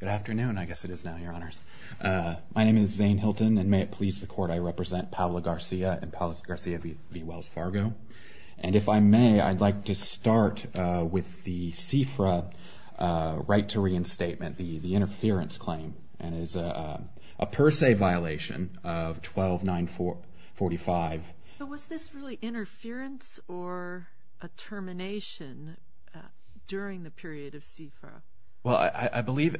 Good afternoon, I guess it is now, Your Honors. My name is Zane Hilton, and may it please the Court, I represent Paola Garcia and Paola Garcia v. Wells Fargo. And if I may, I'd like to start with the CFRA right to reinstatement, the interference claim. And it is a per se violation of 12-945. So was this really interference or a termination during the period of CFRA? Well, I believe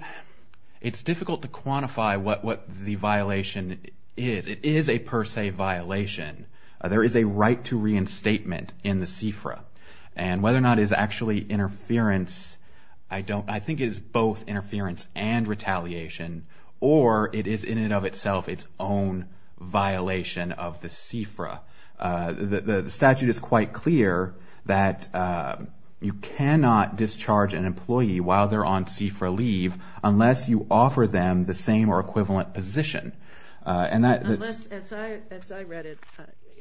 it's difficult to quantify what the violation is. It is a per se violation. There is a right to reinstatement in the CFRA. And whether or not it is actually interference, I think it is both interference and retaliation, or it is in and of itself its own violation of the CFRA. The statute is quite clear that you cannot discharge an employee while they're on CFRA leave unless you offer them the same or equivalent position. As I read it,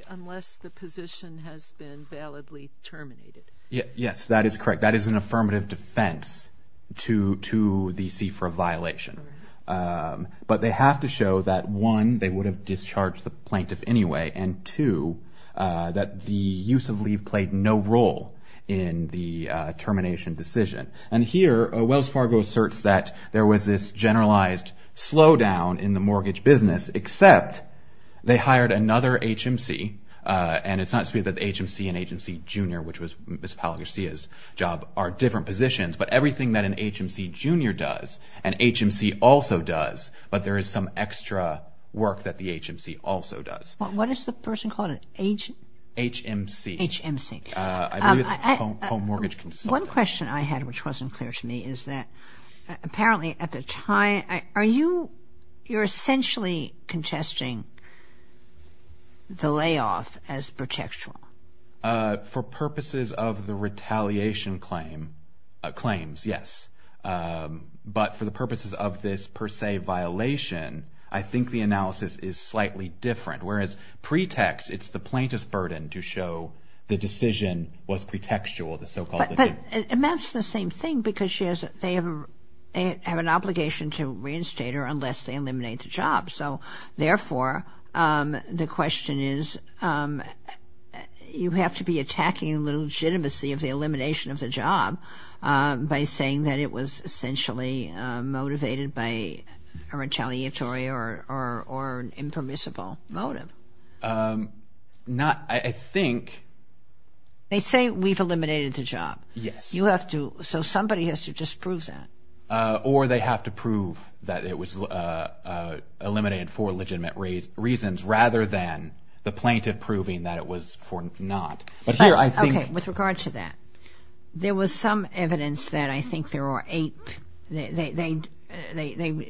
unless the position has been validly terminated. Yes, that is correct. That is an affirmative defense to the CFRA violation. But they have to show that, one, they would have discharged the plaintiff anyway, and, two, that the use of leave played no role in the termination decision. And here, Wells Fargo asserts that there was this generalized slowdown in the mortgage business, except they hired another HMC. And it's not to say that the HMC and HMC Jr., which was Ms. Paula Garcia's job, are different positions, but everything that an HMC Jr. does, an HMC also does, but there is some extra work that the HMC also does. What is the person called? HMC. HMC. I believe it's Home Mortgage Consultant. One question I had which wasn't clear to me is that apparently at the time, are you essentially contesting the layoff as protectural? For purposes of the retaliation claims, yes. But for the purposes of this per se violation, I think the analysis is slightly different. Whereas pretext, it's the plaintiff's burden to show the decision was pretextual, the so-called. But that's the same thing because they have an obligation to reinstate her unless they eliminate the job. So, therefore, the question is you have to be attacking the legitimacy of the elimination of the job by saying that it was essentially motivated by a retaliatory or an impermissible motive. Not, I think. They say we've eliminated the job. Yes. You have to, so somebody has to just prove that. Or they have to prove that it was eliminated for legitimate reasons rather than the plaintiff proving that it was for not. Okay, with regard to that. There was some evidence that I think there were eight. They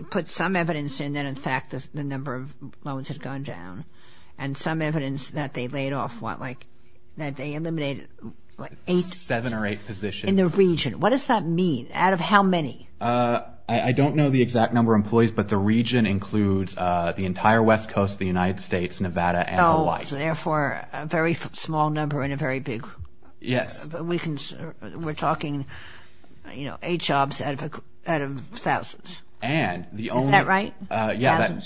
put some evidence in that in fact the number of loans had gone down and some evidence that they laid off what, like that they eliminated eight. Seven or eight positions. In the region. What does that mean? Out of how many? I don't know the exact number of employees, but the region includes the entire West Coast, the United States, Nevada, and Hawaii. So, therefore, a very small number and a very big. Yes. We're talking eight jobs out of thousands. And the only. Isn't that right? Yeah.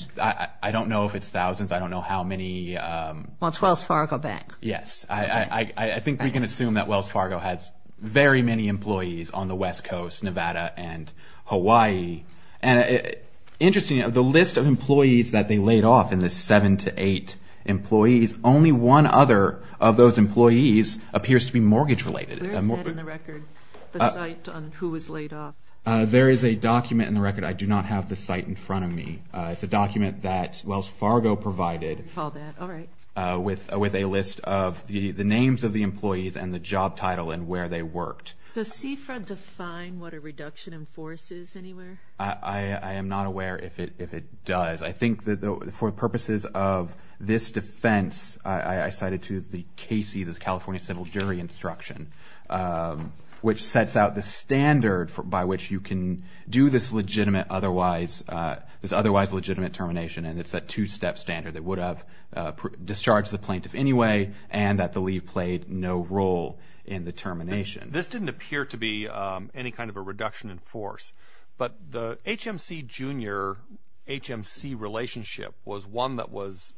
I don't know if it's thousands. I don't know how many. Well, it's Wells Fargo Bank. Yes. I think we can assume that Wells Fargo has very many employees on the West Coast, Nevada, and Hawaii. And interesting, the list of employees that they laid off in the seven to eight employees, only one other of those employees appears to be mortgage related. Where is that in the record, the site on who was laid off? There is a document in the record. I do not have the site in front of me. It's a document that Wells Fargo provided with a list of the names of the employees and the job title and where they worked. Does CFRA define what a reduction in force is anywhere? I am not aware if it does. I think that for purposes of this defense, I cited to the cases as California civil jury instruction, which sets out the standard by which you can do this otherwise legitimate termination, and it's a two-step standard that would have discharged the plaintiff anyway and that the leave played no role in the termination. This didn't appear to be any kind of a reduction in force. But the HMC, Jr., HMC relationship was one that was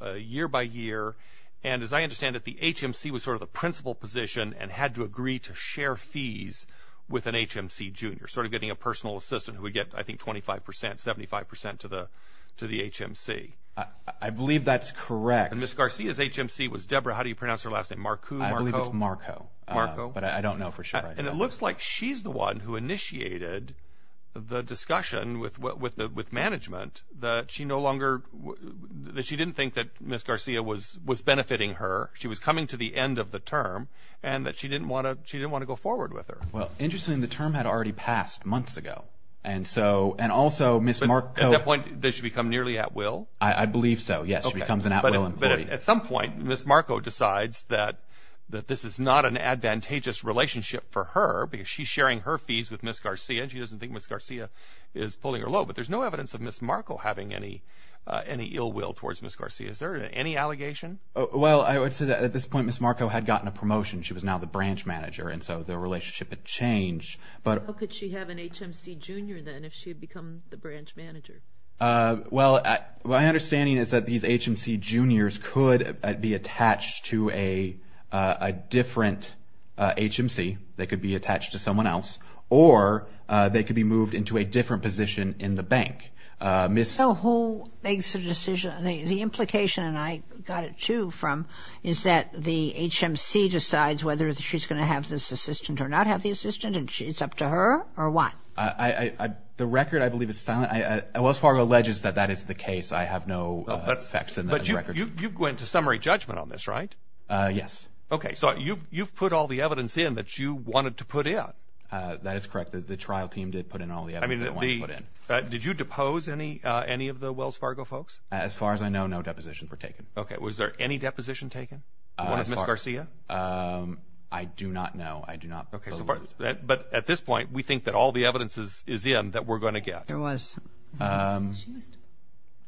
a year-by-year, and as I understand it, the HMC was sort of the principal position and had to agree to share fees with an HMC, Jr., sort of getting a personal assistant who would get, I think, 25%, 75% to the HMC. I believe that's correct. And Ms. Garcia's HMC was Deborah, how do you pronounce her last name, Marku, Marko? I believe it's Marko. Marko. But I don't know for sure. And it looks like she's the one who initiated the discussion with management that she no longer, that she didn't think that Ms. Garcia was benefiting her, she was coming to the end of the term, and that she didn't want to go forward with her. Well, interestingly, the term had already passed months ago, and so, and also Ms. Marko. At that point, did she become nearly at will? I believe so, yes, she becomes an at-will employee. At some point, Ms. Marko decides that this is not an advantageous relationship for her because she's sharing her fees with Ms. Garcia, and she doesn't think Ms. Garcia is pulling her low. But there's no evidence of Ms. Marko having any ill will towards Ms. Garcia. Is there any allegation? Well, I would say that at this point, Ms. Marko had gotten a promotion. She was now the branch manager, and so their relationship had changed. How could she have an HMC, Jr., then, if she had become the branch manager? Well, my understanding is that these HMC, Jr.s could be attached to a different HMC. They could be attached to someone else, or they could be moved into a different position in the bank. So who makes the decision? The implication, and I got it, too, from, is that the HMC decides whether she's going to have this assistant or not have the assistant, and it's up to her, or what? The record, I believe, is silent. Wells Fargo alleges that that is the case. I have no facts in the record. But you went to summary judgment on this, right? Yes. Okay. So you've put all the evidence in that you wanted to put in. That is correct. The trial team did put in all the evidence they wanted to put in. Did you depose any of the Wells Fargo folks? As far as I know, no depositions were taken. Okay. Was there any deposition taken? One of Ms. Garcia? I do not know. I do not believe. But at this point, we think that all the evidence is in that we're going to get. There was. I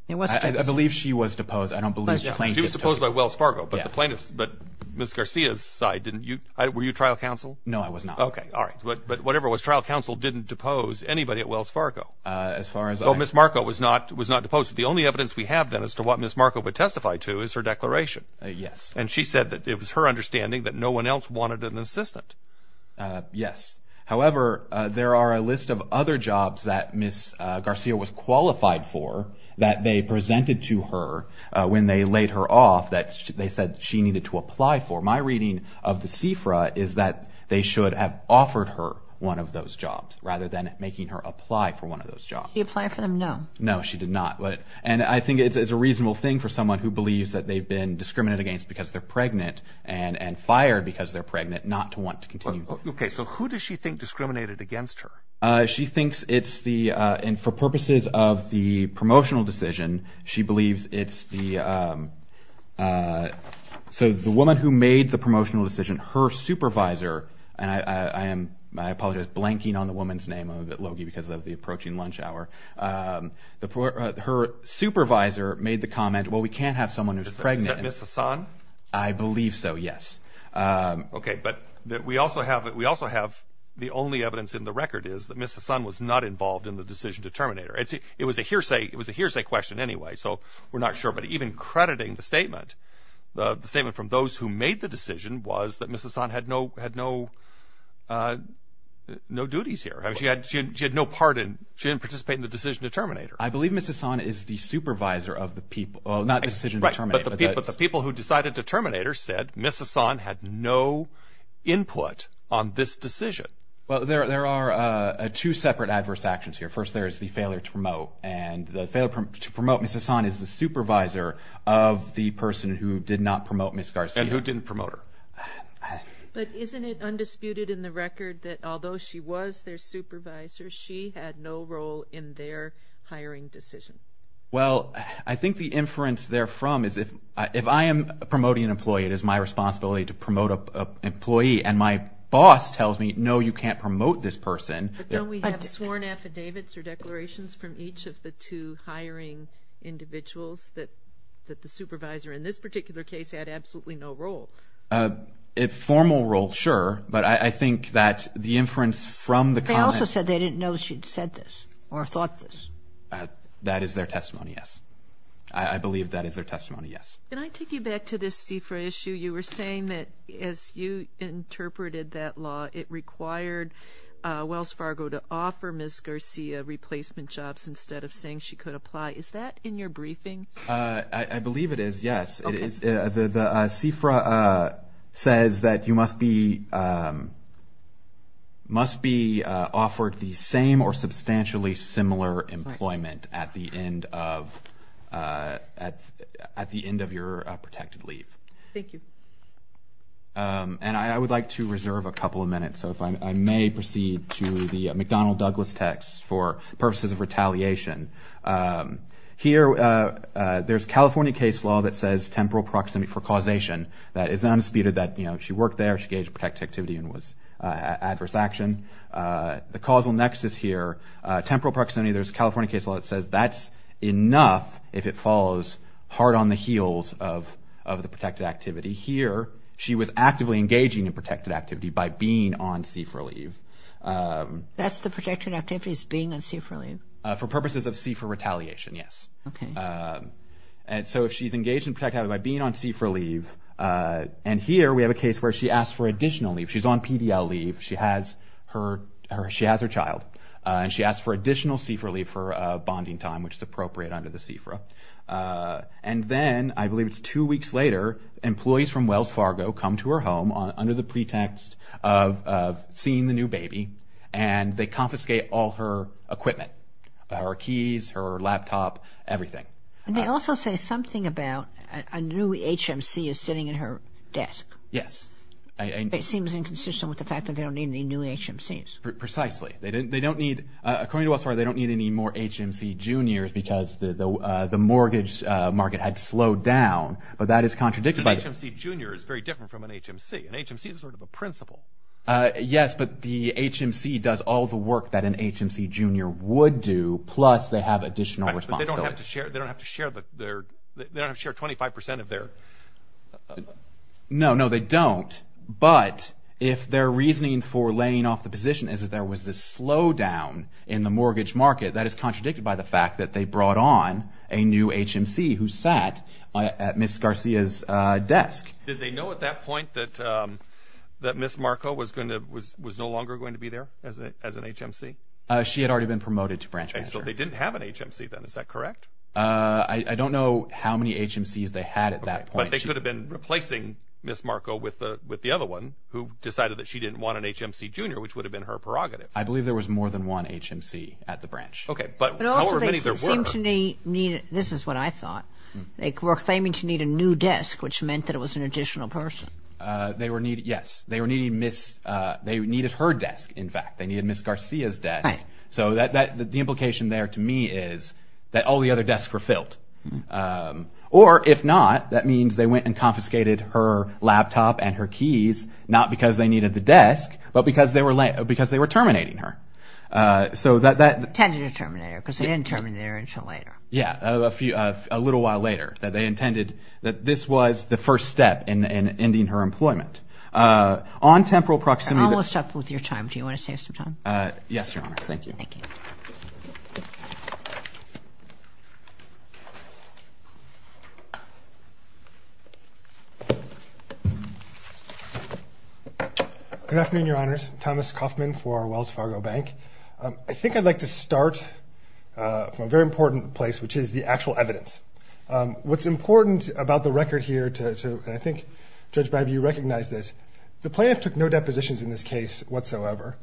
believe she was deposed. I don't believe the plaintiff. She was deposed by Wells Fargo. But Ms. Garcia's side didn't. Were you trial counsel? No, I was not. Okay. All right. But whatever it was, trial counsel didn't depose anybody at Wells Fargo. As far as I know. So Ms. Marco was not deposed. The only evidence we have, then, as to what Ms. Marco would testify to is her declaration. Yes. And she said that it was her understanding that no one else wanted an assistant. Yes. However, there are a list of other jobs that Ms. Garcia was qualified for that they presented to her when they laid her off that they said she needed to apply for. My reading of the CFRA is that they should have offered her one of those jobs rather than making her apply for one of those jobs. Did she apply for them? No. No, she did not. And I think it's a reasonable thing for someone who believes that they've been discriminated against because they're pregnant and fired because they're pregnant not to want to continue. Okay. So who does she think discriminated against her? She thinks it's the – and for purposes of the promotional decision, she believes it's the – so the woman who made the promotional decision, her supervisor – and I apologize, blanking on the woman's name. I'm a bit low-key because of the approaching lunch hour. Her supervisor made the comment, well, we can't have someone who's pregnant. Is that Ms. Hassan? I believe so, yes. Okay. But we also have the only evidence in the record is that Ms. Hassan was not involved in the decision to terminate her. It was a hearsay question anyway, so we're not sure. But even crediting the statement, the statement from those who made the decision was that Ms. Hassan had no duties here. She had no part in – she didn't participate in the decision to terminate her. I believe Ms. Hassan is the supervisor of the people – well, not the decision to terminate her. But the people who decided to terminate her said Ms. Hassan had no input on this decision. Well, there are two separate adverse actions here. First, there is the failure to promote. And the failure to promote Ms. Hassan is the supervisor of the person who did not promote Ms. Garcia. And who didn't promote her. But isn't it undisputed in the record that although she was their supervisor, she had no role in their hiring decision? Well, I think the inference therefrom is if I am promoting an employee, it is my responsibility to promote an employee. And my boss tells me, no, you can't promote this person. But don't we have sworn affidavits or declarations from each of the two hiring individuals that the supervisor, in this particular case, had absolutely no role? A formal role, sure. But I think that the inference from the comment – They also said they didn't know she'd said this or thought this. That is their testimony, yes. I believe that is their testimony, yes. Can I take you back to this CFRA issue? You were saying that as you interpreted that law, it required Wells Fargo to offer Ms. Garcia replacement jobs instead of saying she could apply. Is that in your briefing? I believe it is, yes. The CFRA says that you must be offered the same or substantially similar employment at the end of your protected leave. Thank you. And I would like to reserve a couple of minutes, so if I may proceed to the McDonnell-Douglas text for purposes of retaliation. Here, there's California case law that says temporal proximity for causation. That is unspeeded. She worked there. She engaged in protected activity and was adverse action. The causal nexus here, temporal proximity. There's California case law that says that's enough if it falls hard on the heels of the protected activity. Here, she was actively engaging in protected activity by being on CFRA leave. That's the protected activity is being on CFRA leave. For purposes of CFRA retaliation, yes. Okay. So if she's engaged in protected activity by being on CFRA leave, and here we have a case where she asked for additional leave. She's on PDL leave. She has her child, and she asked for additional CFRA leave for bonding time, which is appropriate under the CFRA. And then, I believe it's two weeks later, employees from Wells Fargo come to her home under the pretext of seeing the new baby, and they confiscate all her equipment, her keys, her laptop, everything. And they also say something about a new HMC is sitting at her desk. Yes. It seems inconsistent with the fact that they don't need any new HMCs. Precisely. They don't need – according to Wells Fargo, they don't need any more HMC juniors because the mortgage market had slowed down, but that is contradicted by – An HMC junior is very different from an HMC. An HMC is sort of a principal. Yes, but the HMC does all the work that an HMC junior would do, plus they have additional responsibility. But they don't have to share – they don't have to share their – they don't have to share 25 percent of their – No, no, they don't. But if their reasoning for laying off the position is that there was this slowdown in the mortgage market, that is contradicted by the fact that they brought on a new HMC who sat at Ms. Garcia's desk. Did they know at that point that Ms. Marco was no longer going to be there as an HMC? She had already been promoted to branch manager. So they didn't have an HMC then, is that correct? I don't know how many HMCs they had at that point. But they could have been replacing Ms. Marco with the other one who decided that she didn't want an HMC junior, which would have been her prerogative. I believe there was more than one HMC at the branch. Okay, but however many there were – This is what I thought. They were claiming to need a new desk, which meant that it was an additional person. Yes. They needed her desk, in fact. They needed Ms. Garcia's desk. Right. So the implication there to me is that all the other desks were filled. Or if not, that means they went and confiscated her laptop and her keys not because they needed the desk, but because they were terminating her. Intended to terminate her because they didn't terminate her until later. Yeah, a little while later. They intended that this was the first step in ending her employment. On temporal proximity – I'm almost up with your time. Do you want to save some time? Yes, Your Honor. Thank you. Thank you. Good afternoon, Your Honors. My name is Thomas Kaufman for Wells Fargo Bank. I think I'd like to start from a very important place, which is the actual evidence. What's important about the record here to – and I think, Judge Bibby, you recognize this. The plaintiff took no depositions in this case whatsoever.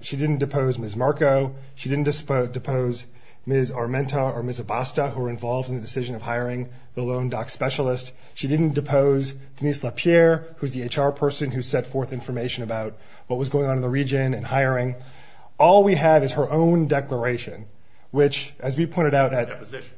She didn't depose Ms. Marco. She didn't depose Ms. Armenta or Ms. Abasta, who were involved in the decision of hiring the loan doc specialist. She didn't depose Denise LaPierre, who's the HR person who set forth information about what was going on in the region and hiring. All we have is her own declaration, which, as we pointed out at – Deposition.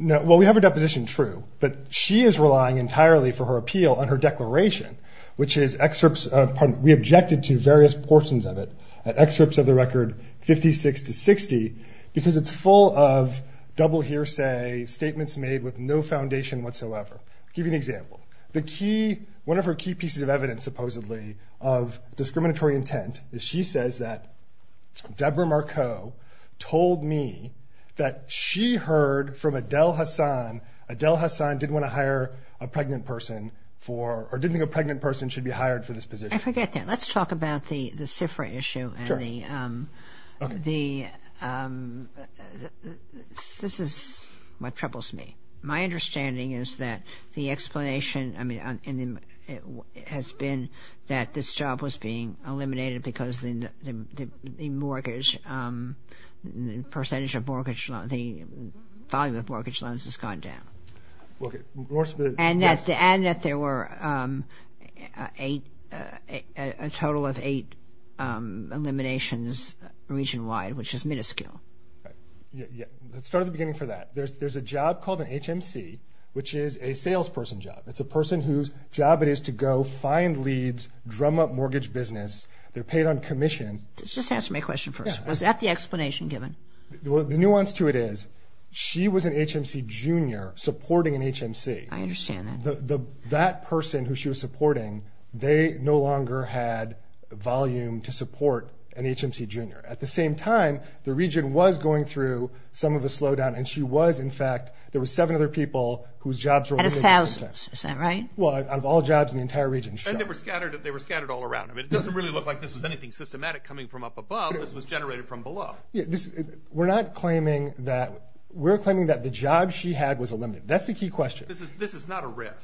Well, we have her deposition, true. But she is relying entirely for her appeal on her declaration, which is excerpts – we objected to various portions of it, excerpts of the record 56 to 60, because it's full of double hearsay, statements made with no foundation whatsoever. I'll give you an example. The key – one of her key pieces of evidence, supposedly, of discriminatory intent, is she says that Deborah Marco told me that she heard from Adele Hassan. Adele Hassan didn't want to hire a pregnant person for – or didn't think a pregnant person should be hired for this position. I forget that. Let's talk about the CIFRA issue. Sure. The – this is what troubles me. My understanding is that the explanation has been that this job was being eliminated because the mortgage – the percentage of mortgage loan – the volume of mortgage loans has gone down. Okay. And that there were a total of eight eliminations region-wide, which is minuscule. Let's start at the beginning for that. There's a job called an HMC, which is a salesperson job. It's a person whose job it is to go find leads, drum up mortgage business. They're paid on commission. Just answer my question first. Was that the explanation given? The nuance to it is she was an HMC junior supporting an HMC. I understand that. That person who she was supporting, they no longer had volume to support an HMC junior. At the same time, the region was going through some of a slowdown, and she was, in fact – there were seven other people whose jobs were – Out of thousands. Is that right? Well, out of all jobs in the entire region. And they were scattered all around. I mean, it doesn't really look like this was anything systematic coming from up above. This was generated from below. We're not claiming that – we're claiming that the job she had was eliminated. That's the key question. This is not a riff.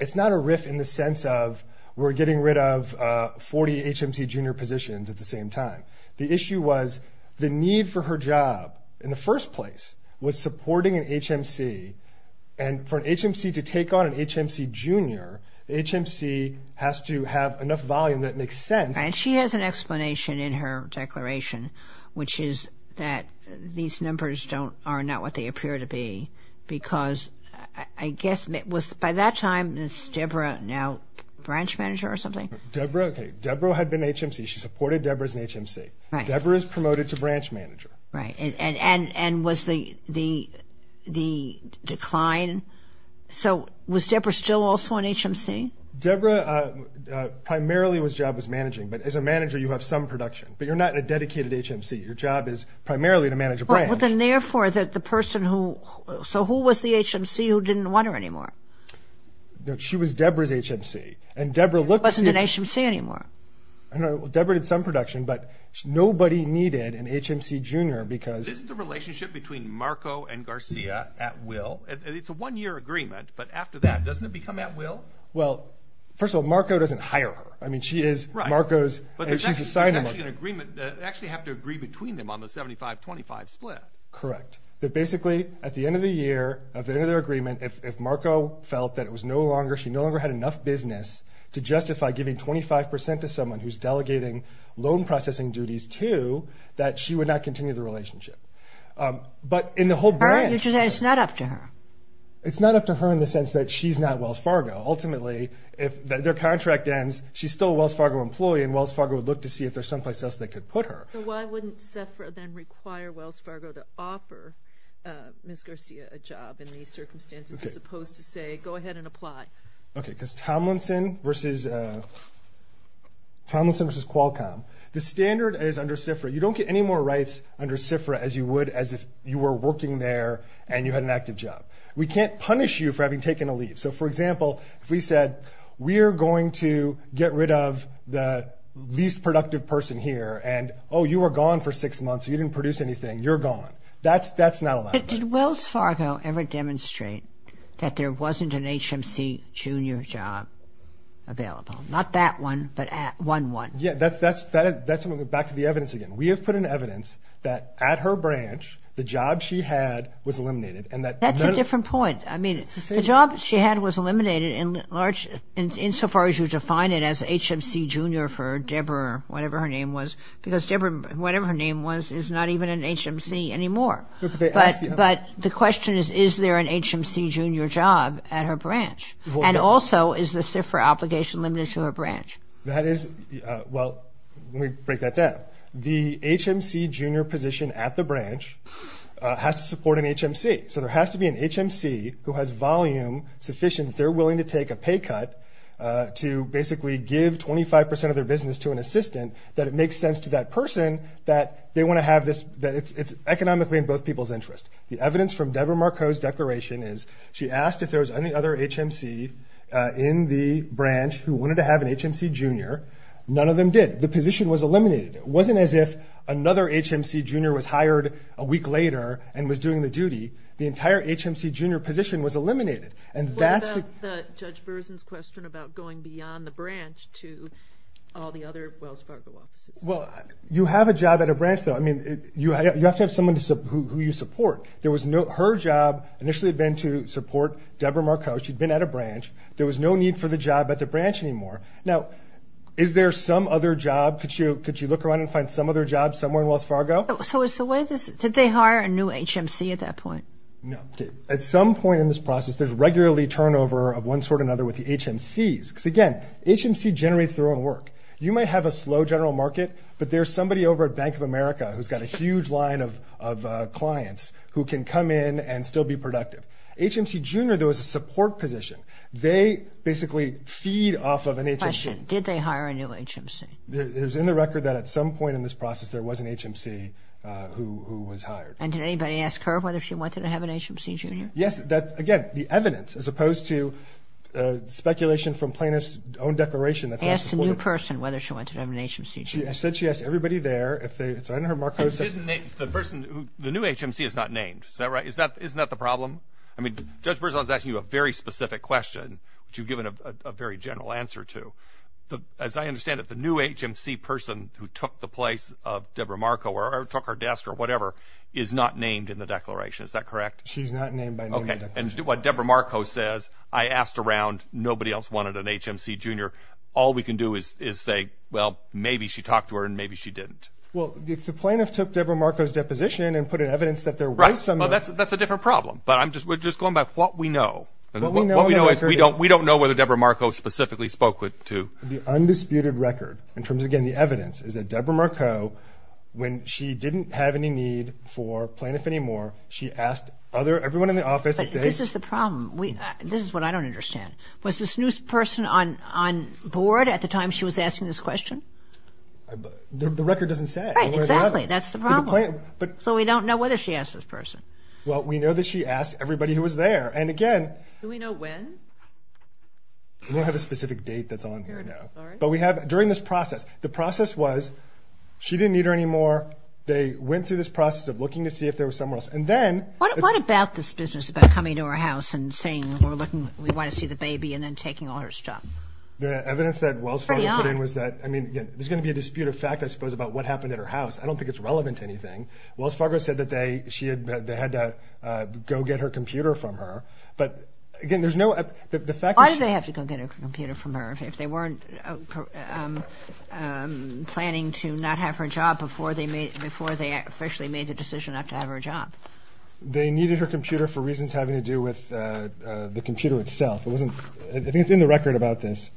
It's not a riff in the sense of we're getting rid of 40 HMC junior positions at the same time. The issue was the need for her job in the first place was supporting an HMC, and for an HMC to take on an HMC junior, the HMC has to have enough volume that it makes sense. And she has an explanation in her declaration, which is that these numbers are not what they appear to be because, I guess – by that time, was Debra now branch manager or something? Debra? Okay. Debra had been HMC. She supported Debra as an HMC. Right. Debra is promoted to branch manager. Right. And was the decline – so was Debra still also an HMC? Debra primarily was job was managing. But as a manager, you have some production. But you're not in a dedicated HMC. Your job is primarily to manage a branch. Well, then, therefore, the person who – so who was the HMC who didn't want her anymore? She was Debra's HMC. And Debra looked to see – She wasn't an HMC anymore. Debra did some production, but nobody needed an HMC junior because – Isn't the relationship between Marco and Garcia at will? It's a one-year agreement, but after that, doesn't it become at will? Well, first of all, Marco doesn't hire her. I mean, she is Marco's – Right. But there's actually an agreement. They actually have to agree between them on the 75-25 split. Correct. But basically, at the end of the year, at the end of their agreement, if Marco felt that it was no longer – she no longer had enough business to justify giving 25 percent to someone who's delegating loan processing duties to, that she would not continue the relationship. But in the whole branch – It's not up to her. It's up to her in the sense that she's not Wells Fargo. Ultimately, if their contract ends, she's still a Wells Fargo employee, and Wells Fargo would look to see if there's someplace else they could put her. So why wouldn't SIFRA then require Wells Fargo to offer Ms. Garcia a job in these circumstances as opposed to say, go ahead and apply? Okay, because Tomlinson versus – Tomlinson versus Qualcomm. The standard is under SIFRA. You don't get any more rights under SIFRA as you would as if you were working there and you had an active job. We can't punish you for having taken a leave. So, for example, if we said we're going to get rid of the least productive person here and, oh, you were gone for six months, you didn't produce anything, you're gone. That's not allowed. But did Wells Fargo ever demonstrate that there wasn't an HMC junior job available? Not that one, but one, one. Yeah, that's – back to the evidence again. We have put in evidence that at her branch, the job she had was eliminated. That's a different point. I mean, the job she had was eliminated in large – insofar as you define it as HMC junior for Deborah, whatever her name was, because Deborah, whatever her name was, is not even an HMC anymore. But the question is, is there an HMC junior job at her branch? And also, is the SIFRA obligation limited to her branch? That is – well, let me break that down. The HMC junior position at the branch has to support an HMC. So there has to be an HMC who has volume sufficient that they're willing to take a pay cut to basically give 25 percent of their business to an assistant, that it makes sense to that person that they want to have this – that it's economically in both people's interest. The evidence from Deborah Marco's declaration is she asked if there was any other HMC in the branch who wanted to have an HMC junior. None of them did. The position was eliminated. It wasn't as if another HMC junior was hired a week later and was doing the duty. The entire HMC junior position was eliminated. And that's the – What about Judge Berzin's question about going beyond the branch to all the other Wells Fargo offices? Well, you have a job at a branch, though. I mean, you have to have someone who you support. There was no – her job initially had been to support Deborah Marco. She'd been at a branch. There was no need for the job at the branch anymore. Now, is there some other job? Could you look around and find some other job somewhere in Wells Fargo? So is the way this – did they hire a new HMC at that point? No. At some point in this process, there's regularly turnover of one sort or another with the HMCs. Because, again, HMC generates their own work. You might have a slow general market, but there's somebody over at Bank of America who's got a huge line of clients who can come in and still be productive. HMC junior, there was a support position. They basically feed off of an HMC. I have a question. Did they hire a new HMC? It was in the record that at some point in this process, there was an HMC who was hired. And did anybody ask her whether she wanted to have an HMC junior? Yes. Again, the evidence, as opposed to speculation from plaintiff's own declaration. They asked a new person whether she wanted to have an HMC junior. I said she asked everybody there. If they – it's under her Marcos. The person – the new HMC is not named. Is that right? Isn't that the problem? I mean, Judge Berzon is asking you a very specific question, which you've given a very general answer to. As I understand it, the new HMC person who took the place of Deborah Marco or took her desk or whatever is not named in the declaration. Is that correct? She's not named by name in the declaration. Okay. And what Deborah Marco says, I asked around. Nobody else wanted an HMC junior. All we can do is say, well, maybe she talked to her and maybe she didn't. Well, if the plaintiff took Deborah Marco's deposition and put in evidence that there was some – Right. Well, that's a different problem. But I'm just – we're just going by what we know. What we know is we don't know whether Deborah Marco specifically spoke to – The undisputed record, in terms of getting the evidence, is that Deborah Marco, when she didn't have any need for plaintiff anymore, she asked other – everyone in the office if they – But this is the problem. This is what I don't understand. Was this new person on board at the time she was asking this question? The record doesn't say. Right. Exactly. That's the problem. So we don't know whether she asked this person. Well, we know that she asked everybody who was there. And, again – Do we know when? We don't have a specific date that's on here now. But we have – during this process, the process was she didn't need her anymore. They went through this process of looking to see if there was someone else. And then – What about this business about coming to her house and saying we're looking – we want to see the baby and then taking all her stuff? The evidence that Wells Fargo put in was that, I mean, there's going to be a dispute of fact, I suppose, about what happened at her house. I don't think it's relevant to anything. Wells Fargo said that they had to go get her computer from her. But, again, there's no – the fact is – Why did they have to go get her computer from her if they weren't planning to not have her job before they officially made the decision not to have her job? They needed her computer for reasons having to do with the computer itself. It wasn't – I think it's in the record about this.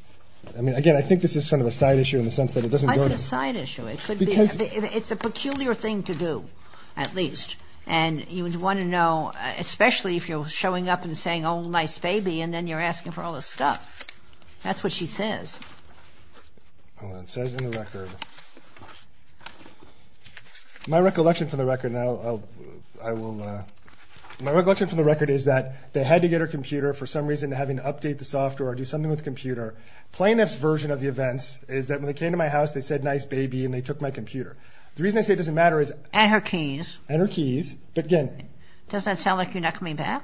I mean, again, I think this is sort of a side issue in the sense that it doesn't go to – Why is it a side issue? It could be – it's a peculiar thing to do, at least. And you would want to know, especially if you're showing up and saying, oh, nice baby, and then you're asking for all the stuff. That's what she says. Hold on. It says in the record. My recollection from the record – I will – my recollection from the record is that they had to get her computer for some reason having to update the software or do something with the computer. Plaintiff's version of the events is that when they came to my house, they said, nice baby, and they took my computer. The reason I say it doesn't matter is – And her keys. And her keys. But, again – Does that sound like you're not coming back?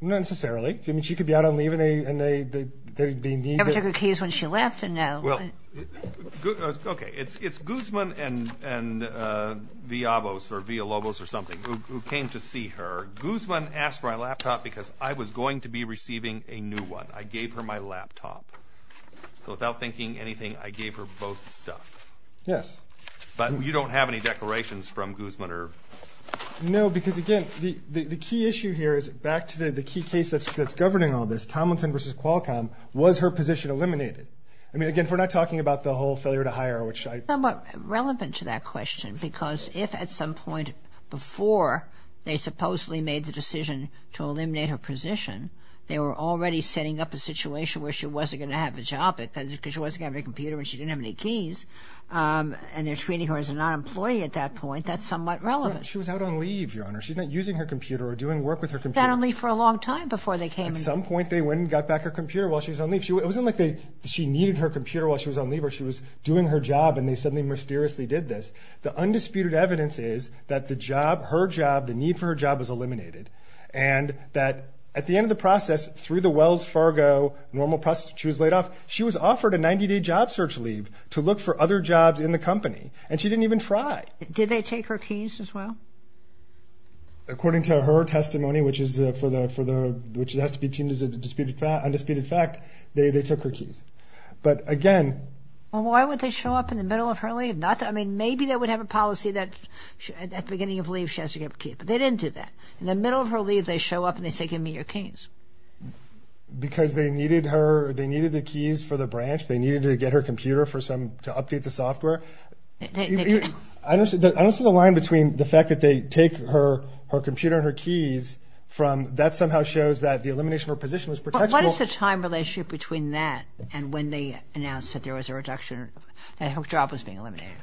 Not necessarily. I mean, she could be out on leave and they need – You never took her keys when she left? And now what? Okay. It's Guzman and Villalobos or something who came to see her. Guzman asked for my laptop because I was going to be receiving a new one. I gave her my laptop. So without thinking anything, I gave her both stuff. Yes. But you don't have any declarations from Guzman or – No, because, again, the key issue here is back to the key case that's governing all this, Tomlinson v. Qualcomm, was her position eliminated? I mean, again, we're not talking about the whole failure to hire, which I – It's somewhat relevant to that question because if at some point before they supposedly made the decision to eliminate her position, they were already setting up a situation where she wasn't going to have a job because she wasn't going to have a computer and she didn't have any keys, and they're treating her as a non-employee at that point, that's somewhat relevant. She was out on leave, Your Honor. She's not using her computer or doing work with her computer. She was out on leave for a long time before they came and – At some point they went and got back her computer while she was on leave. It wasn't like she needed her computer while she was on leave or she was doing her job and they suddenly mysteriously did this. The undisputed evidence is that the job, her job, the need for her job was eliminated and that at the end of the process, through the Wells Fargo normal process she was laid off, she was offered a 90-day job search leave to look for other jobs in the company, and she didn't even try. Did they take her keys as well? According to her testimony, which is for the – which has to be deemed as an undisputed fact, they took her keys. But again – Well, why would they show up in the middle of her leave? I mean, maybe they would have a policy that at the beginning of leave she has to get her keys, but they didn't do that. In the middle of her leave they show up and they say, give me your keys. Because they needed her – they needed the keys for the branch, they needed to get her computer for some – to update the software. I don't see the line between the fact that they take her computer and her keys from – that somehow shows that the elimination of her position was protectable. But what is the time relationship between that and when they announced that there was a reduction and her job was being eliminated?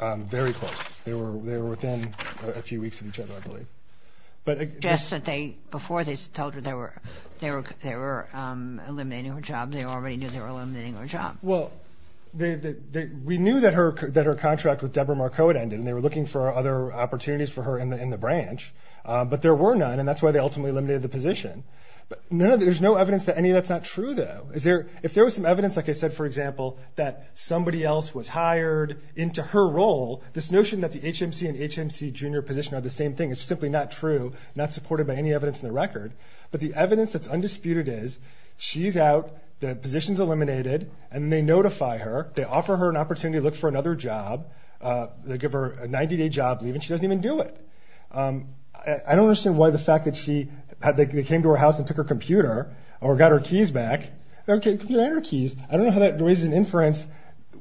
Very close. They were within a few weeks of each other, I believe. But – Just that they – before they told her they were eliminating her job, they already knew they were eliminating her job. Well, we knew that her contract with Deborah Marcotte ended, and they were looking for other opportunities for her in the branch. But there were none, and that's why they ultimately eliminated the position. There's no evidence that any of that's not true, though. Is there – if there was some evidence, like I said, for example, that somebody else was hired into her role, this notion that the HMC and HMC junior position are the same thing is simply not true, not supported by any evidence in the record. But the evidence that's undisputed is she's out, the position's eliminated, and they notify her. They offer her an opportunity to look for another job. They give her a 90-day job leave, and she doesn't even do it. I don't understand why the fact that she – or got her keys back. She didn't have her keys. I don't know how that raises an inference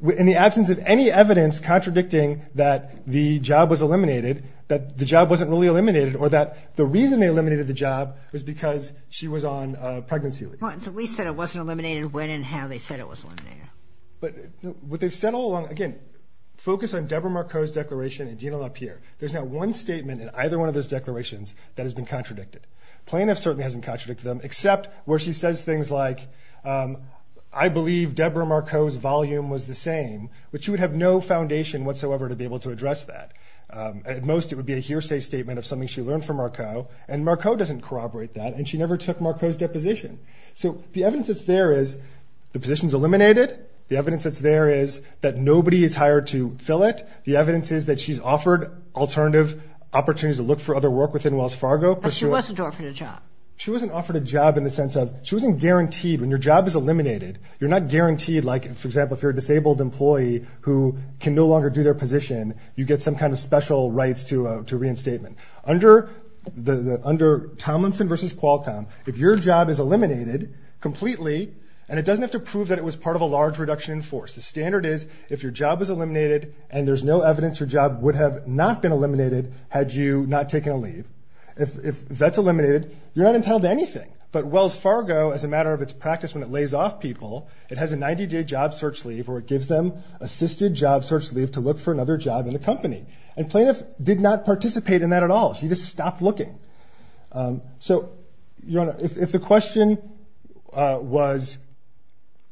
in the absence of any evidence contradicting that the job was eliminated, that the job wasn't really eliminated, or that the reason they eliminated the job was because she was on pregnancy leave. Well, at least that it wasn't eliminated when and how they said it was eliminated. But what they've said all along – again, focus on Deborah Marcotte's declaration and Dina LaPierre. There's not one statement in either one of those declarations that has been contradicted. Plaintiff certainly hasn't contradicted them, except where she says things like, I believe Deborah Marcotte's volume was the same, but she would have no foundation whatsoever to be able to address that. At most, it would be a hearsay statement of something she learned from Marcotte, and Marcotte doesn't corroborate that, and she never took Marcotte's deposition. So the evidence that's there is the position's eliminated. The evidence that's there is that nobody is hired to fill it. The evidence is that she's offered alternative opportunities to look for other work within Wells Fargo. But she wasn't offered a job. She wasn't offered a job in the sense of – she wasn't guaranteed. When your job is eliminated, you're not guaranteed, like, for example, if you're a disabled employee who can no longer do their position, you get some kind of special rights to reinstatement. Under Tomlinson v. Qualcomm, if your job is eliminated completely, and it doesn't have to prove that it was part of a large reduction in force. The standard is if your job is eliminated and there's no evidence your job would have not been eliminated had you not taken a leave, if that's eliminated, you're not entitled to anything. But Wells Fargo, as a matter of its practice when it lays off people, it has a 90-day job search leave or it gives them assisted job search leave to look for another job in the company. And Plaintiff did not participate in that at all. She just stopped looking. So, Your Honor, if the question was –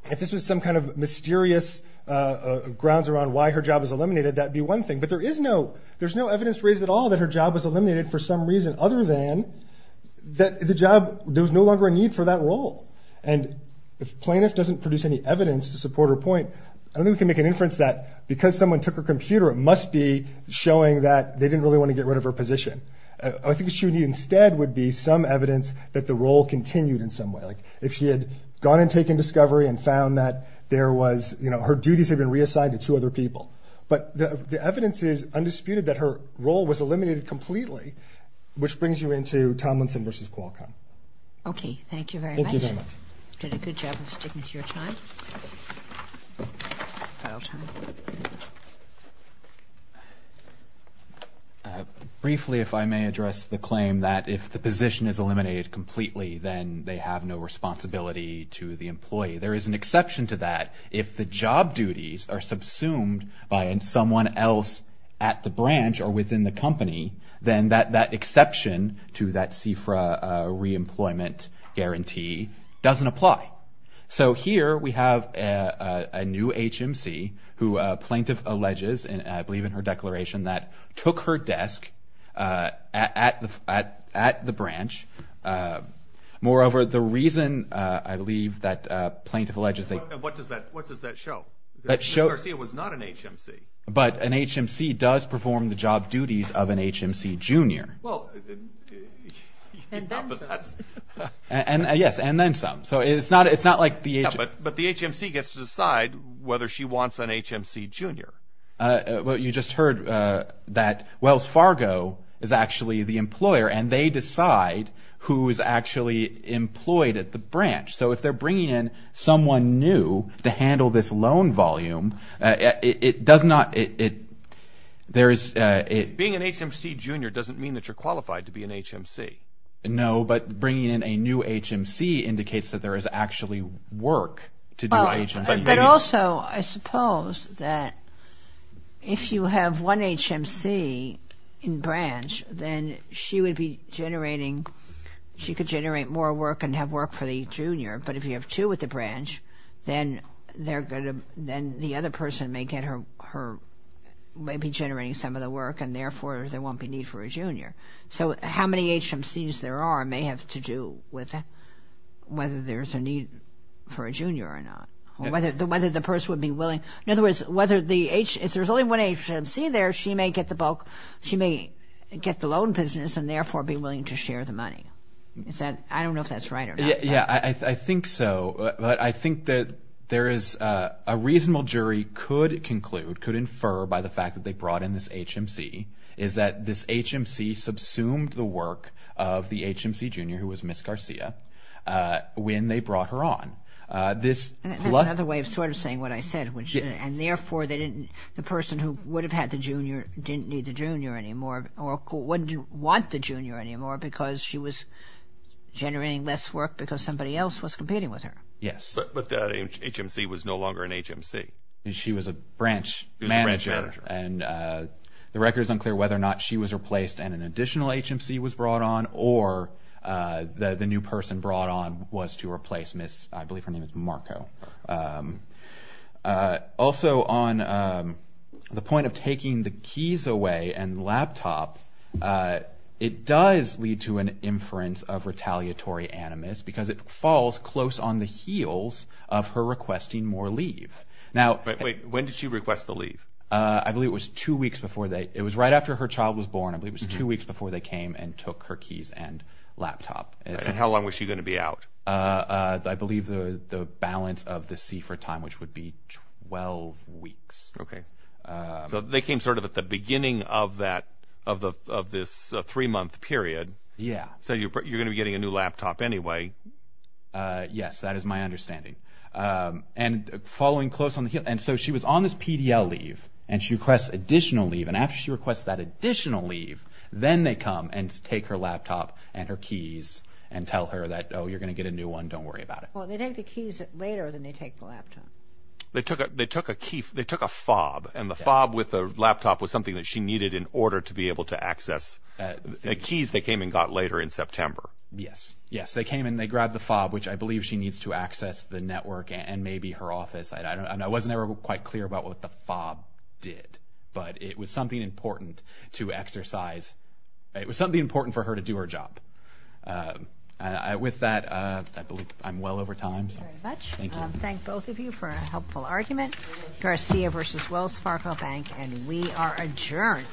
if this was some kind of mysterious grounds around why her job was eliminated, that would be one thing. But there is no – there's no evidence raised at all that her job was eliminated for some reason other than that the job – there was no longer a need for that role. And if Plaintiff doesn't produce any evidence to support her point, I don't think we can make an inference that because someone took her computer, it must be showing that they didn't really want to get rid of her position. I think what she would need instead would be some evidence that the role continued in some way. Like, if she had gone and taken discovery and found that there was – her duties had been reassigned to two other people. But the evidence is undisputed that her role was eliminated completely, which brings you into Tomlinson v. Qualcomm. Okay. Thank you very much. Thank you very much. You did a good job of sticking to your time. Briefly, if I may address the claim that if the position is eliminated completely, then they have no responsibility to the employee. There is an exception to that. If the job duties are subsumed by someone else at the branch or within the company, then that exception to that CFRA reemployment guarantee doesn't apply. So here we have a new HMC who Plaintiff alleges, I believe in her declaration, that took her desk at the branch. Moreover, the reason, I believe, that Plaintiff alleges that – What does that show? Ms. Garcia was not an HMC. But an HMC does perform the job duties of an HMC junior. Well – And then some. Yes, and then some. So it's not like the – But the HMC gets to decide whether she wants an HMC junior. Well, you just heard that Wells Fargo is actually the employer, and they decide who is actually employed at the branch. So if they're bringing in someone new to handle this loan volume, it does not – Being an HMC junior doesn't mean that you're qualified to be an HMC. No, but bringing in a new HMC indicates that there is actually work to do by HMC. But also, I suppose that if you have one HMC in branch, then she would be generating – she could generate more work and have work for the junior. But if you have two at the branch, then they're going to – then the other person may get her – may be generating some of the work, and therefore there won't be need for a junior. So how many HMCs there are may have to do with whether there's a need for a junior or not, or whether the person would be willing – in other words, whether the – if there's only one HMC there, she may get the bulk – she may get the loan business and therefore be willing to share the money. Is that – I don't know if that's right or not. Yes, I think so. But I think that there is – a reasonable jury could conclude, could infer by the fact that they brought in this HMC, is that this HMC subsumed the work of the HMC junior, who was Ms. Garcia, when they brought her on. There's another way of sort of saying what I said, which – and therefore they didn't – the person who would have had the junior didn't need the junior anymore or wouldn't want the junior anymore because she was generating less work because somebody else was competing with her. Yes. But that HMC was no longer an HMC. She was a branch manager. And the record is unclear whether or not she was replaced and an additional HMC was brought on or the new person brought on was to replace Ms. – I believe her name is Marco. Also, on the point of taking the keys away and laptop, it does lead to an inference of retaliatory animus because it falls close on the heels of her requesting more leave. When did she request the leave? I believe it was two weeks before they – it was right after her child was born. I believe it was two weeks before they came and took her keys and laptop. And how long was she going to be out? I believe the balance of the C for time, which would be 12 weeks. Okay. So they came sort of at the beginning of that – of this three-month period. Yeah. So you're going to be getting a new laptop anyway. Yes, that is my understanding. And following close on the heels – and so she was on this PDL leave and she requests additional leave. And after she requests that additional leave, then they come and take her laptop and her keys and tell her that, oh, you're going to get a new one, don't worry about it. Well, they take the keys later than they take the laptop. They took a key – they took a FOB, and the FOB with the laptop was something that she needed in order to be able to access the keys they came and got later in September. Yes. Yes, they came and they grabbed the FOB, which I believe she needs to access the network and maybe her office. I wasn't ever quite clear about what the FOB did, but it was something important to exercise – it was something important for her to do her job. With that, I believe I'm well over time. Thank you very much. Thank you. Thank both of you for a helpful argument. Garcia v. Wells Fargo Bank, and we are adjourned.